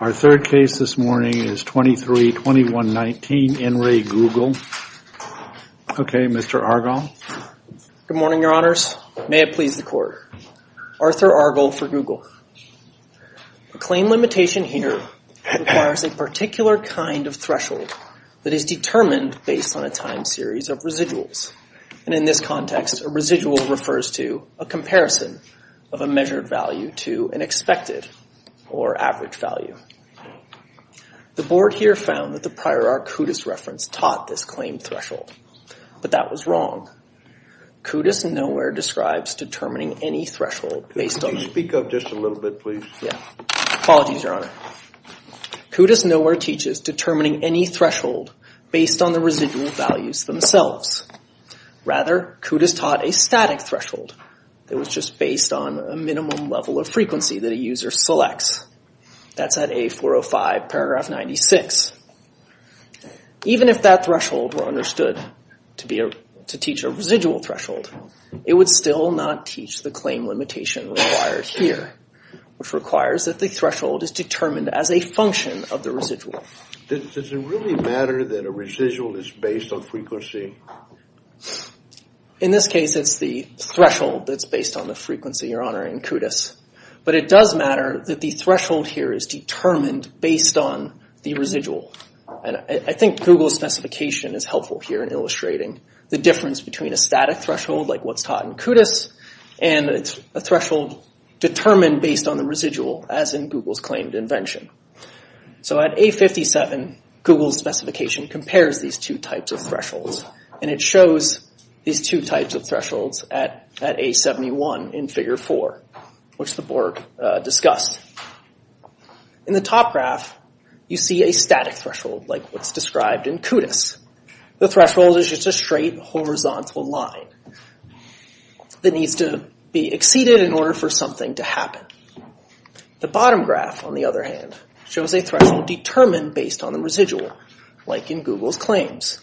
Our third case this morning is 23-2119 N. Re. Google. Okay, Mr. Argyle. Good morning, Your Honors. May it please the Court. Arthur Argyle for Google. The claim limitation here requires a particular kind of threshold that is determined based on a time series of residuals. And in this context, a residual refers to a comparison of a measured value to an expected or average value. The Board here found that the prior art CUDIS reference taught this claim threshold, but that was wrong. CUDIS nowhere describes determining any threshold based on... Could you speak up just a little bit, please? Yeah. Apologies, Your Honor. CUDIS nowhere teaches determining any threshold based on the residual values themselves. Rather, CUDIS taught a static threshold that was just based on a minimum level of frequency that a user selects. That's at A405, paragraph 96. Even if that threshold were understood to teach a residual threshold, it would still not teach the claim limitation required here, which requires that the threshold is determined as a function of the residual. Does it really matter that a residual is based on frequency? In this case, it's the threshold that's based on the frequency, Your Honor, in CUDIS. But it does matter that the threshold here is determined based on the residual. And I think Google's specification is helpful here in illustrating the difference between a static threshold, like what's taught in CUDIS, and a threshold determined based on the residual, as in Google's claimed invention. So at A57, Google's specification compares these two types of thresholds. And it shows these two types of thresholds at A71 in figure four, which the Borg discussed. In the top graph, you see a static threshold, like what's described in CUDIS. The threshold is just a straight, horizontal line that needs to be exceeded in order for something to happen. The bottom graph, on the other hand, shows a threshold determined based on the residual, like in Google's claims.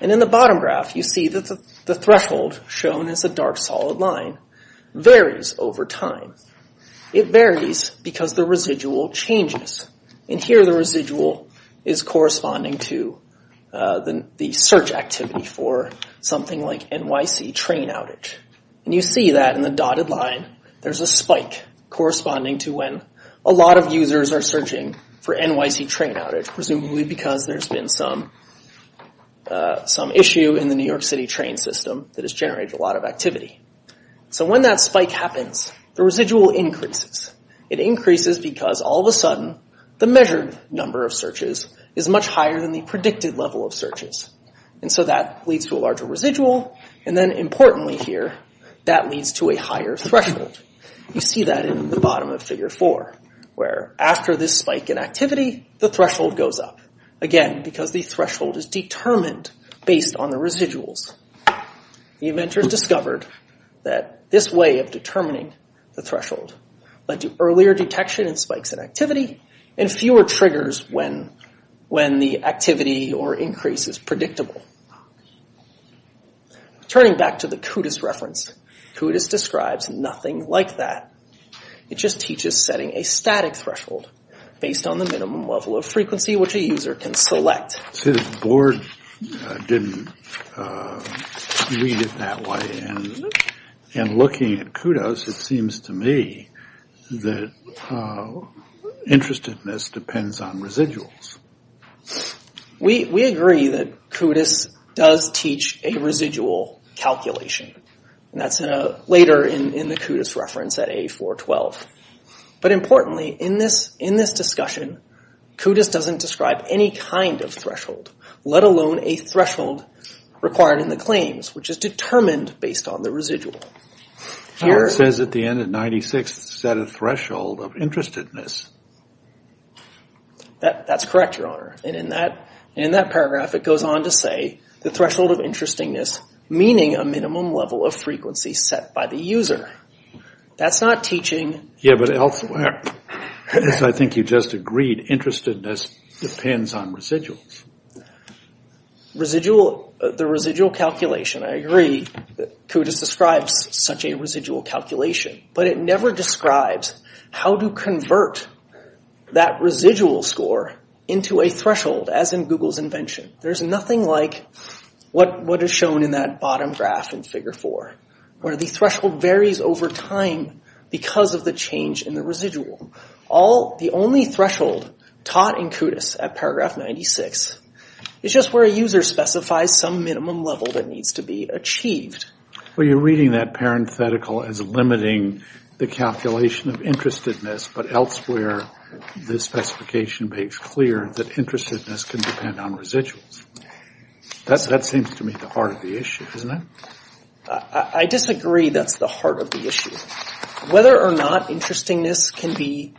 And in the bottom graph, you see that the threshold, shown as a dark, solid line, varies over time. It varies because the residual changes. And here, the residual is corresponding to the search activity for something like NYC train outage. And you see that in the dotted line, there's a spike corresponding to when a lot of users are searching for NYC train outage, presumably because there's been some issue in the New York City train system that has generated a lot of activity. So when that spike happens, the residual increases. It increases because all of a sudden, the measured number of searches is much higher than the predicted level of searches. And so that leads to a larger residual. And then importantly here, that leads to a higher threshold. You see that in the bottom of figure four, where after this spike in activity, the threshold goes up. Again, because the threshold is determined based on the residuals. The inventors discovered that this way of determining the threshold led to earlier detection in spikes in activity and fewer triggers when the activity or increase is predictable. Turning back to the Kudas reference, Kudas describes nothing like that. It just teaches setting a static threshold based on the minimum level of frequency which a user can select. So the board didn't read it that way. And looking at Kudas, it seems to me that interestedness depends on residuals. We agree that Kudas does teach a residual calculation. And that's later in the Kudas reference at A412. But importantly, in this discussion, Kudas doesn't describe any kind of threshold, let alone a threshold required in the claims which is determined based on the residual. It says at the end of 96, set a threshold of interestedness. That's correct, your honor. And in that paragraph, it goes on to say the threshold of interestingness meaning a minimum level of frequency set by the user. That's not teaching. Yeah, but elsewhere, as I think you just agreed, interestedness depends on residuals. The residual calculation, I agree, Kudas describes such a residual calculation. But it never describes how to convert that residual score into a threshold as in Google's invention. There's nothing like what is shown in that bottom graph in figure four where the threshold varies over time because of the change in the residual. All, the only threshold taught in Kudas at paragraph 96 is just where a user specifies some minimum level that needs to be achieved. Well, you're reading that parenthetical as limiting the calculation of interestedness, but elsewhere, the specification makes clear that interestedness can depend on residuals. That seems to me the heart of the issue, isn't it? I disagree that's the heart of the issue. Whether or not interestingness can be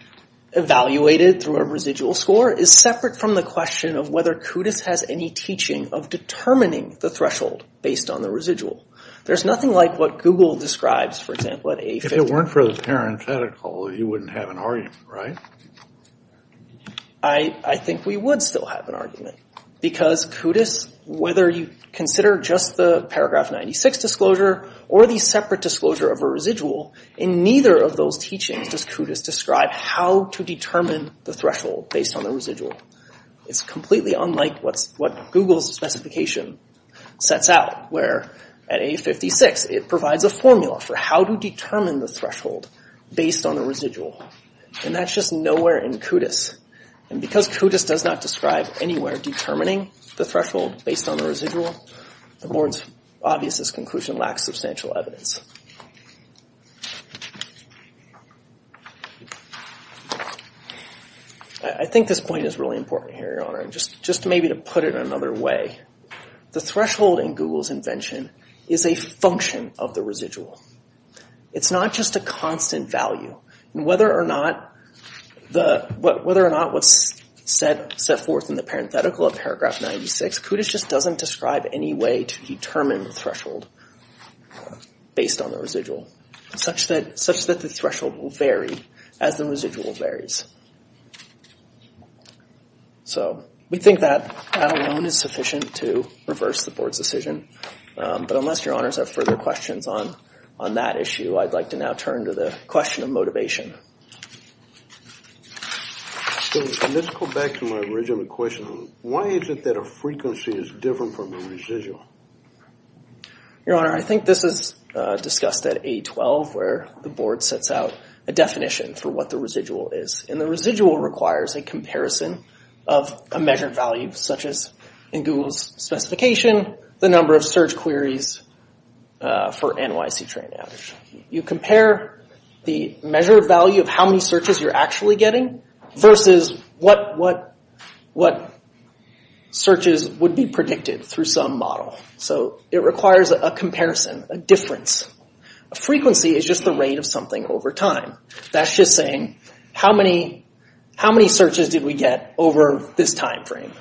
evaluated through a residual score is separate from the question of whether Kudas has any teaching of determining the threshold based on the residual. There's nothing like what Google describes, for example, at A50. If it weren't for the parenthetical, you wouldn't have an argument, right? I think we would still have an argument because Kudas, whether you consider just the paragraph 96 disclosure or the separate disclosure of a residual, in neither of those teachings does Kudas describe how to determine the threshold based on the residual. It's completely unlike what Google's specification sets out where at A56, it provides a formula for how to determine the threshold based on the residual. And that's just nowhere in Kudas. And because Kudas does not describe anywhere determining the threshold based on the residual, the board's obviousest conclusion lacks substantial evidence. I think this point is really important here, Your Honor. Just maybe to put it in another way, the threshold in Google's invention is a function of the residual. It's not just a constant value. And whether or not what's set forth in the parenthetical of paragraph 96, Kudas just doesn't describe any way to determine the threshold based on the residual, such that the threshold will vary as the residual varies. So we think that alone is sufficient to reverse the board's decision. But unless Your Honors have further questions on that issue, I'd like to now turn to the question of motivation. So let's go back to my original question. Why is it that a frequency is different from a residual? Your Honor, I think this is discussed at A12, where the board sets out a definition for what the residual is. And the residual requires a comparison of a measured value, such as in Google's specification, the number of search queries for NYC train average. You compare the measured value to the number of how many searches you're actually getting, versus what searches would be predicted through some model. So it requires a comparison, a difference. A frequency is just the rate of something over time. That's just saying, how many searches did we get over this time frame?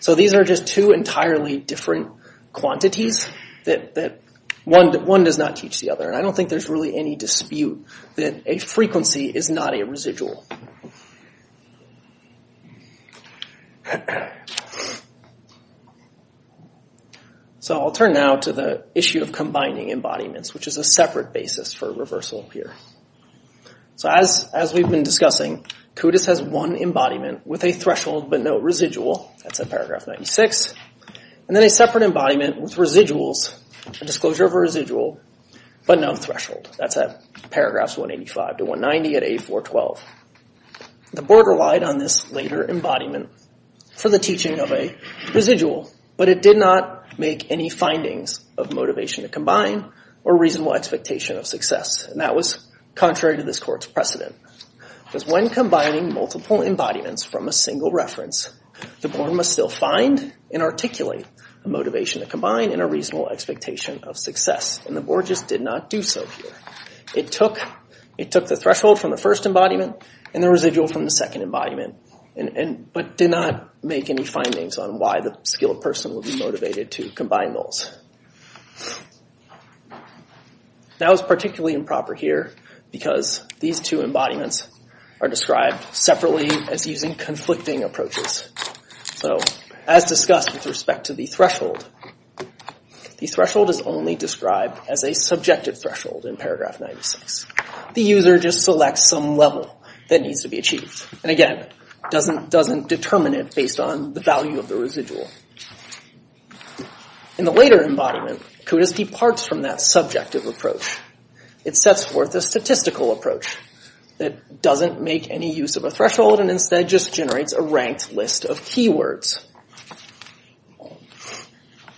So these are just two entirely different quantities that one does not teach the other. And I don't think there's really any dispute that a frequency is not a residual. So I'll turn now to the issue of combining embodiments, which is a separate basis for reversal here. So as we've been discussing, CUDIS has one embodiment with a threshold but no residual. That's at paragraph 96. And then a separate embodiment with residuals, a disclosure of a residual, but no threshold. That's at paragraphs 185 to 190 at 8412. The board relied on this later embodiment for the teaching of a residual, but it did not make any findings of motivation to combine or reasonable expectation of success. And that was contrary to this court's precedent. Because when combining multiple embodiments from a single reference, the board must still find and articulate a motivation to combine and a reasonable expectation of success. And the board just did not do so here. It took the threshold from the first embodiment and the residual from the second embodiment, but did not make any findings on why the skilled person would be motivated to combine those. That was particularly improper here because these two embodiments are described separately as using conflicting approaches. So as discussed with respect to the threshold, the threshold is only described as a subjective threshold in paragraph 96. The user just selects some level that needs to be achieved. And again, doesn't determine it based on the value of the residual. In the later embodiment, CODIS departs from that subjective approach. It sets forth a statistical approach that doesn't make any use of a threshold and instead just generates a ranked list of keywords.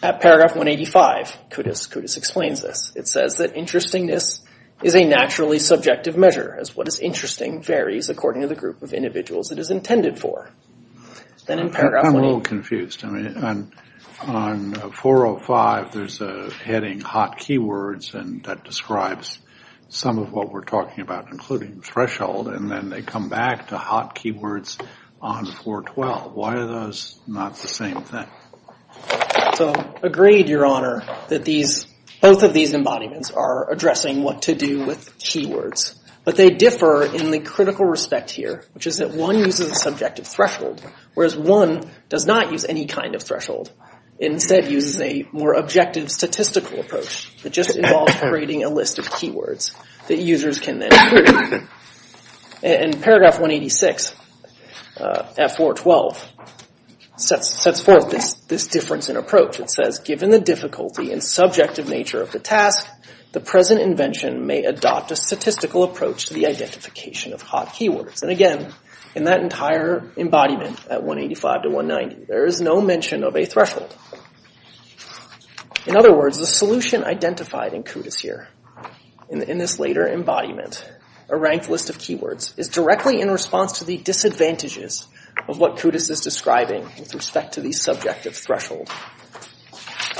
At paragraph 185, CODIS explains this. It says that, interestingness is a naturally subjective measure as what is interesting varies according to the group of individuals it is intended for. Then in paragraph- I'm a little confused. I mean, on 405, there's a heading hot keywords and that describes some of what we're talking about, including threshold. And then they come back to hot keywords on 412. Why are those not the same thing? So, agreed, your honor, that these, both of these embodiments are addressing what to do with keywords. But they differ in the critical respect here, which is that one uses a subjective threshold, whereas one does not use any kind of threshold. Instead, uses a more objective statistical approach that just involves creating a list of keywords that users can then- In paragraph 186, F-412 sets forth this difference in approach. It says, given the difficulty and subjective nature of the task, the present invention may adopt a statistical approach to the identification of hot keywords. And again, in that entire embodiment at 185 to 190, there is no mention of a threshold. In other words, the solution identified in CODIS here, in this later embodiment, a ranked list of keywords, is directly in response to the disadvantages of what CODIS is describing with respect to the subjective threshold.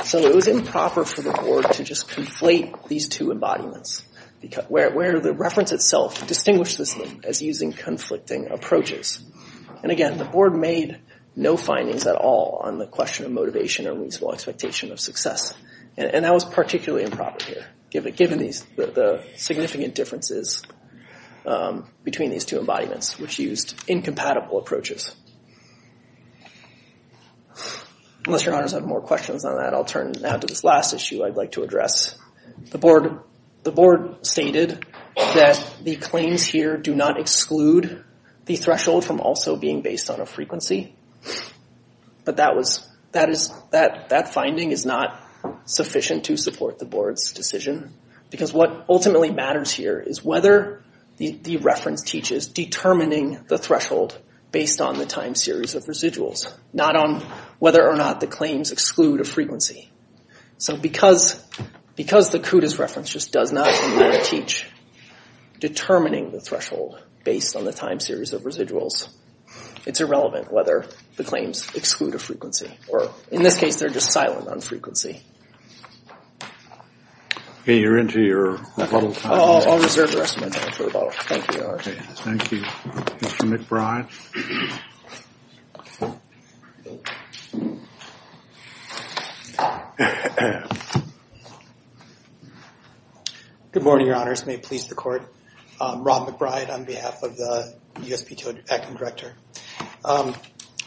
So it was improper for the board to just conflate these two embodiments, where the reference itself distinguished this as using conflicting approaches. And again, the board made no findings at all on the question of motivation or reasonable expectation of success. And that was particularly improper here, given the significant differences between these two embodiments, which used incompatible approaches. Unless your honors have more questions on that, I'll turn now to this last issue I'd like to address. The board stated that the claims here do not exclude the threshold from also being based on a frequency. But that finding is not sufficient to support the board's decision, because what ultimately matters here is whether the reference teaches determining the threshold based on the time series of residuals, not on whether or not the claims exclude a frequency. So because the CODIS reference just does not in any way teach determining the threshold based on the time series of residuals, it's irrelevant whether the claims exclude a frequency, or in this case, they're just silent on frequency. Okay, you're into your rebuttal time. I'll reserve the rest of my time for the rebuttal. Thank you, Your Honor. Okay, thank you. Mr. McBride. Good morning, Your Honors. May it please the Court. Rob McBride on behalf of the USPTO Acting Director.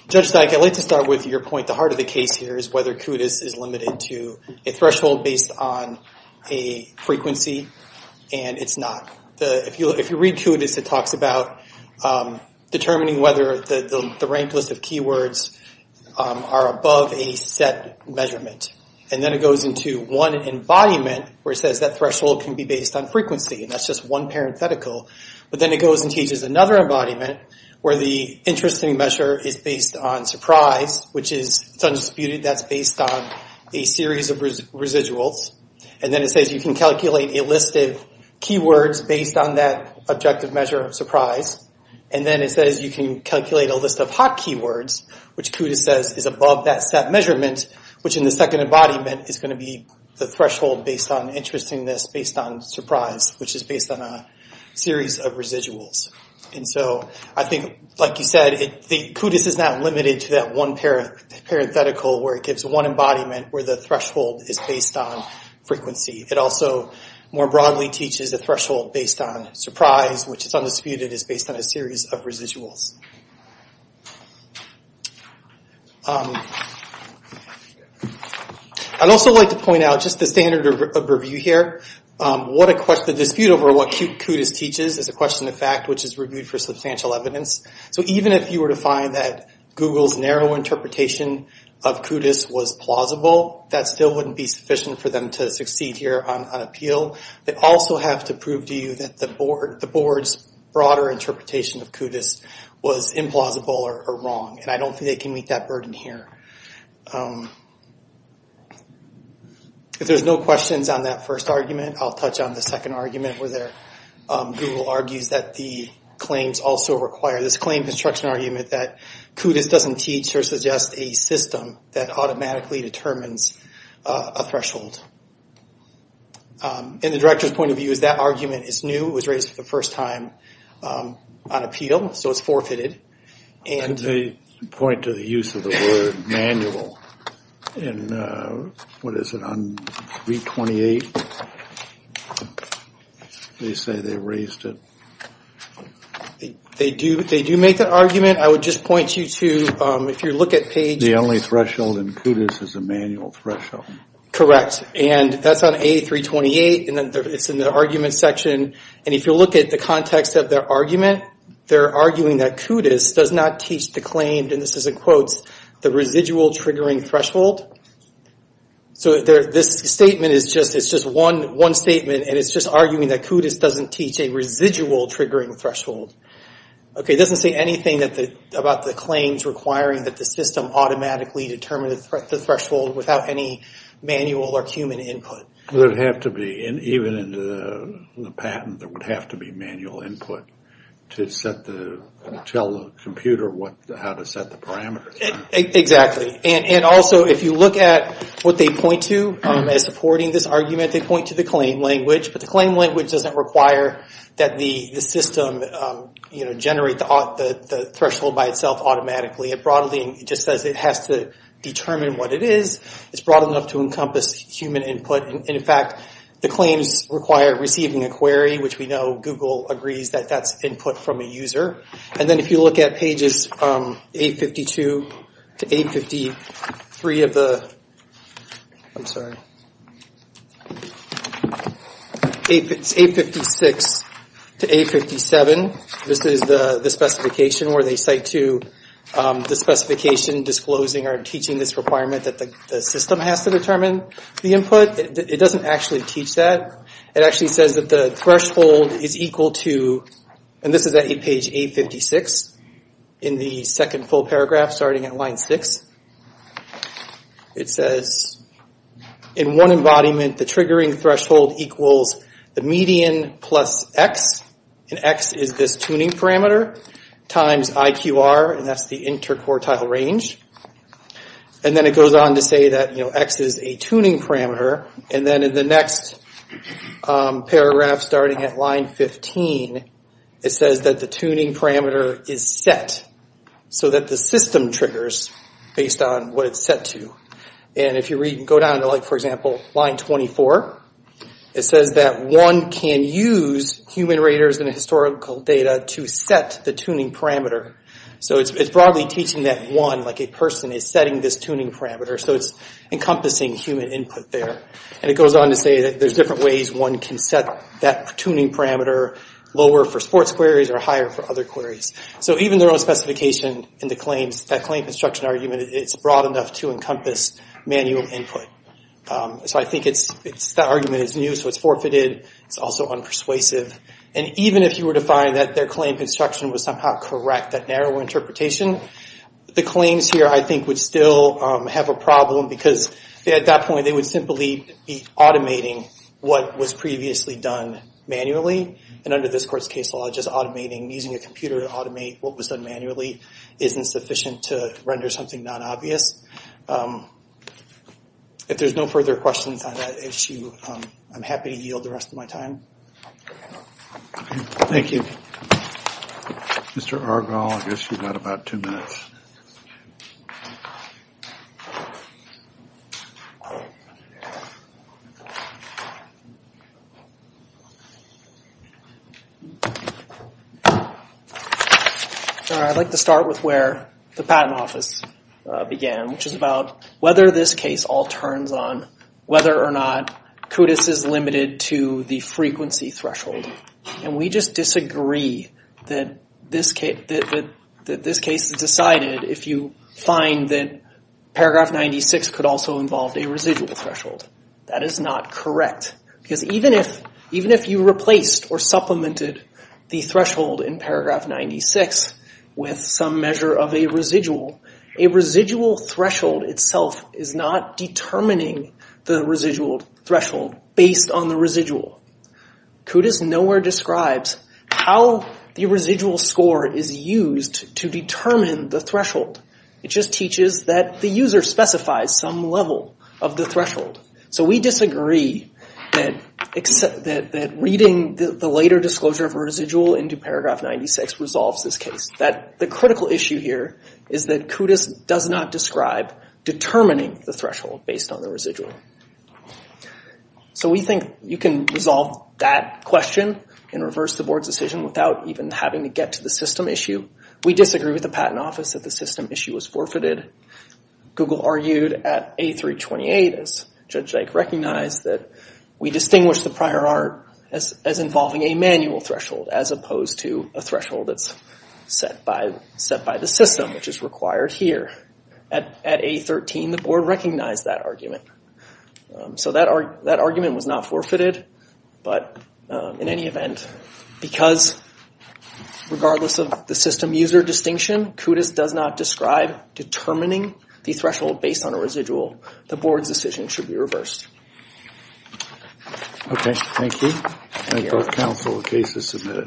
Judge Dyke, I'd like to start with your point. The heart of the case here is whether CODIS is limited to a threshold based on a frequency, and it's not. If you read CODIS, it talks about determining whether the ranked list of keywords are above a set measurement. And then it goes into one embodiment where it says that threshold can be based on frequency, and that's just one parenthetical. But then it goes and teaches another embodiment where the interesting measure is based on surprise, which is, it's undisputed, that's based on a series of residuals. And then it says you can calculate a list of keywords based on that objective measure of surprise. And then it says you can calculate a list of hot keywords, which CODIS says is above that set measurement, which in the second embodiment is gonna be the threshold based on interestingness based on surprise, which is based on a series of residuals. And so I think, like you said, CODIS is not limited to that one parenthetical where it gives one embodiment where the threshold is based on frequency. It also more broadly teaches a threshold based on surprise, which is undisputed, is based on a series of residuals. I'd also like to point out just the standard of review here. What a question, the dispute over what CODIS teaches is a question of fact, which is reviewed for substantial evidence. So even if you were to find that Google's narrow interpretation of CODIS was plausible, that still wouldn't be sufficient for them to succeed here on appeal. They also have to prove to you that the board's broader interpretation of CODIS was implausible or wrong. And I don't think they can meet that burden here. If there's no questions on that first argument, I'll touch on the second argument where Google argues that the claims also require, this claim construction argument that CODIS doesn't teach or suggest a system that automatically determines a threshold. And the director's point of view is that argument is new, it was raised for the first time on appeal, so it's forfeited, and- They point to the use of the word manual in, what is it, on 328? They say they raised it. They do make that argument. I would just point you to, if you look at page- The only threshold in CODIS is a manual threshold. Correct, and that's on A328, and it's in the argument section. And if you look at the context of their argument, they're arguing that CODIS does not teach the claim, and this is in quotes, the residual triggering threshold. So this statement is just one statement, and it's just arguing that CODIS doesn't teach a residual triggering threshold. Okay, it doesn't say anything about the claims requiring that the system automatically determine the threshold without any manual or human input. It would have to be, even in the patent, there would have to be manual input to tell the computer how to set the parameters. Exactly, and also, if you look at what they point to as supporting this argument, they point to the claim language, but the claim language doesn't require that the system generate the threshold by itself automatically. It broadly just says it has to determine what it is. It's broad enough to encompass human input, and in fact, the claims require receiving a query, which we know Google agrees that that's input from a user. And then if you look at pages 852 to 853 of the- I'm sorry. 856 to 857, this is the specification where they cite to the specification disclosing or teaching this requirement that the system has to determine the input. It doesn't actually teach that. It actually says that the threshold is equal to, and this is at page 856 in the second full paragraph starting at line six. It says, in one embodiment, the triggering threshold equals the median plus x, and x is this tuning parameter, times IQR, and that's the interquartile range. And then it goes on to say that x is a tuning parameter, and then in the next paragraph starting at line 15, it says that the tuning parameter is set so that the system triggers based on what it's set to. And if you go down to, like, for example, line 24, it says that one can use human raters and historical data to set the tuning parameter. So it's broadly teaching that one, like a person, is setting this tuning parameter, so it's encompassing human input there. And it goes on to say that there's different ways one can set that tuning parameter, lower for sports queries or higher for other queries. So even their own specification in the claims, that claim construction argument, it's broad enough to encompass manual input. So I think it's, that argument is new, so it's forfeited, it's also unpersuasive. And even if you were to find that their claim construction was somehow correct, that narrow interpretation, the claims here, I think, would still have a problem because at that point, they would simply be automating what was previously done manually, and under this court's case law, just automating, using a computer to automate what was done manually isn't sufficient to render something non-obvious. If there's no further questions on that issue, I'm happy to yield the rest of my time. Thank you. Mr. Argyle, I guess you've got about two minutes. All right, I'd like to start with where the Patent Office began, which is about whether this case all turns on whether or not CUDIS is limited to the frequency threshold. And we just disagree that this case is decided if you find that paragraph 96 could also involve a residual threshold. That is not correct, because even if you replaced or supplemented the threshold in paragraph 96 with some measure of a residual, a residual threshold itself is not determining the residual threshold based on the residual. CUDIS nowhere describes how the residual score is used to determine the threshold. It just teaches that the user specifies some level of the threshold. So we disagree that reading the later disclosure of a residual into paragraph 96 resolves this case. The critical issue here is that CUDIS does not describe determining the threshold based on the residual. So we think you can resolve that question and reverse the board's decision without even having to get to the system issue. We disagree with the Patent Office that the system issue was forfeited. Google argued at A328, as Judge Dyke recognized, that we distinguish the prior art as involving a manual threshold as opposed to a threshold that's set by the system, which is required here. At A13, the board recognized that argument. So that argument was not forfeited, but in any event, because regardless of the system user distinction, CUDIS does not describe determining the threshold based on a residual. The board's decision should be reversed. Okay, thank you. Thank you. And both counsel, the case is submitted.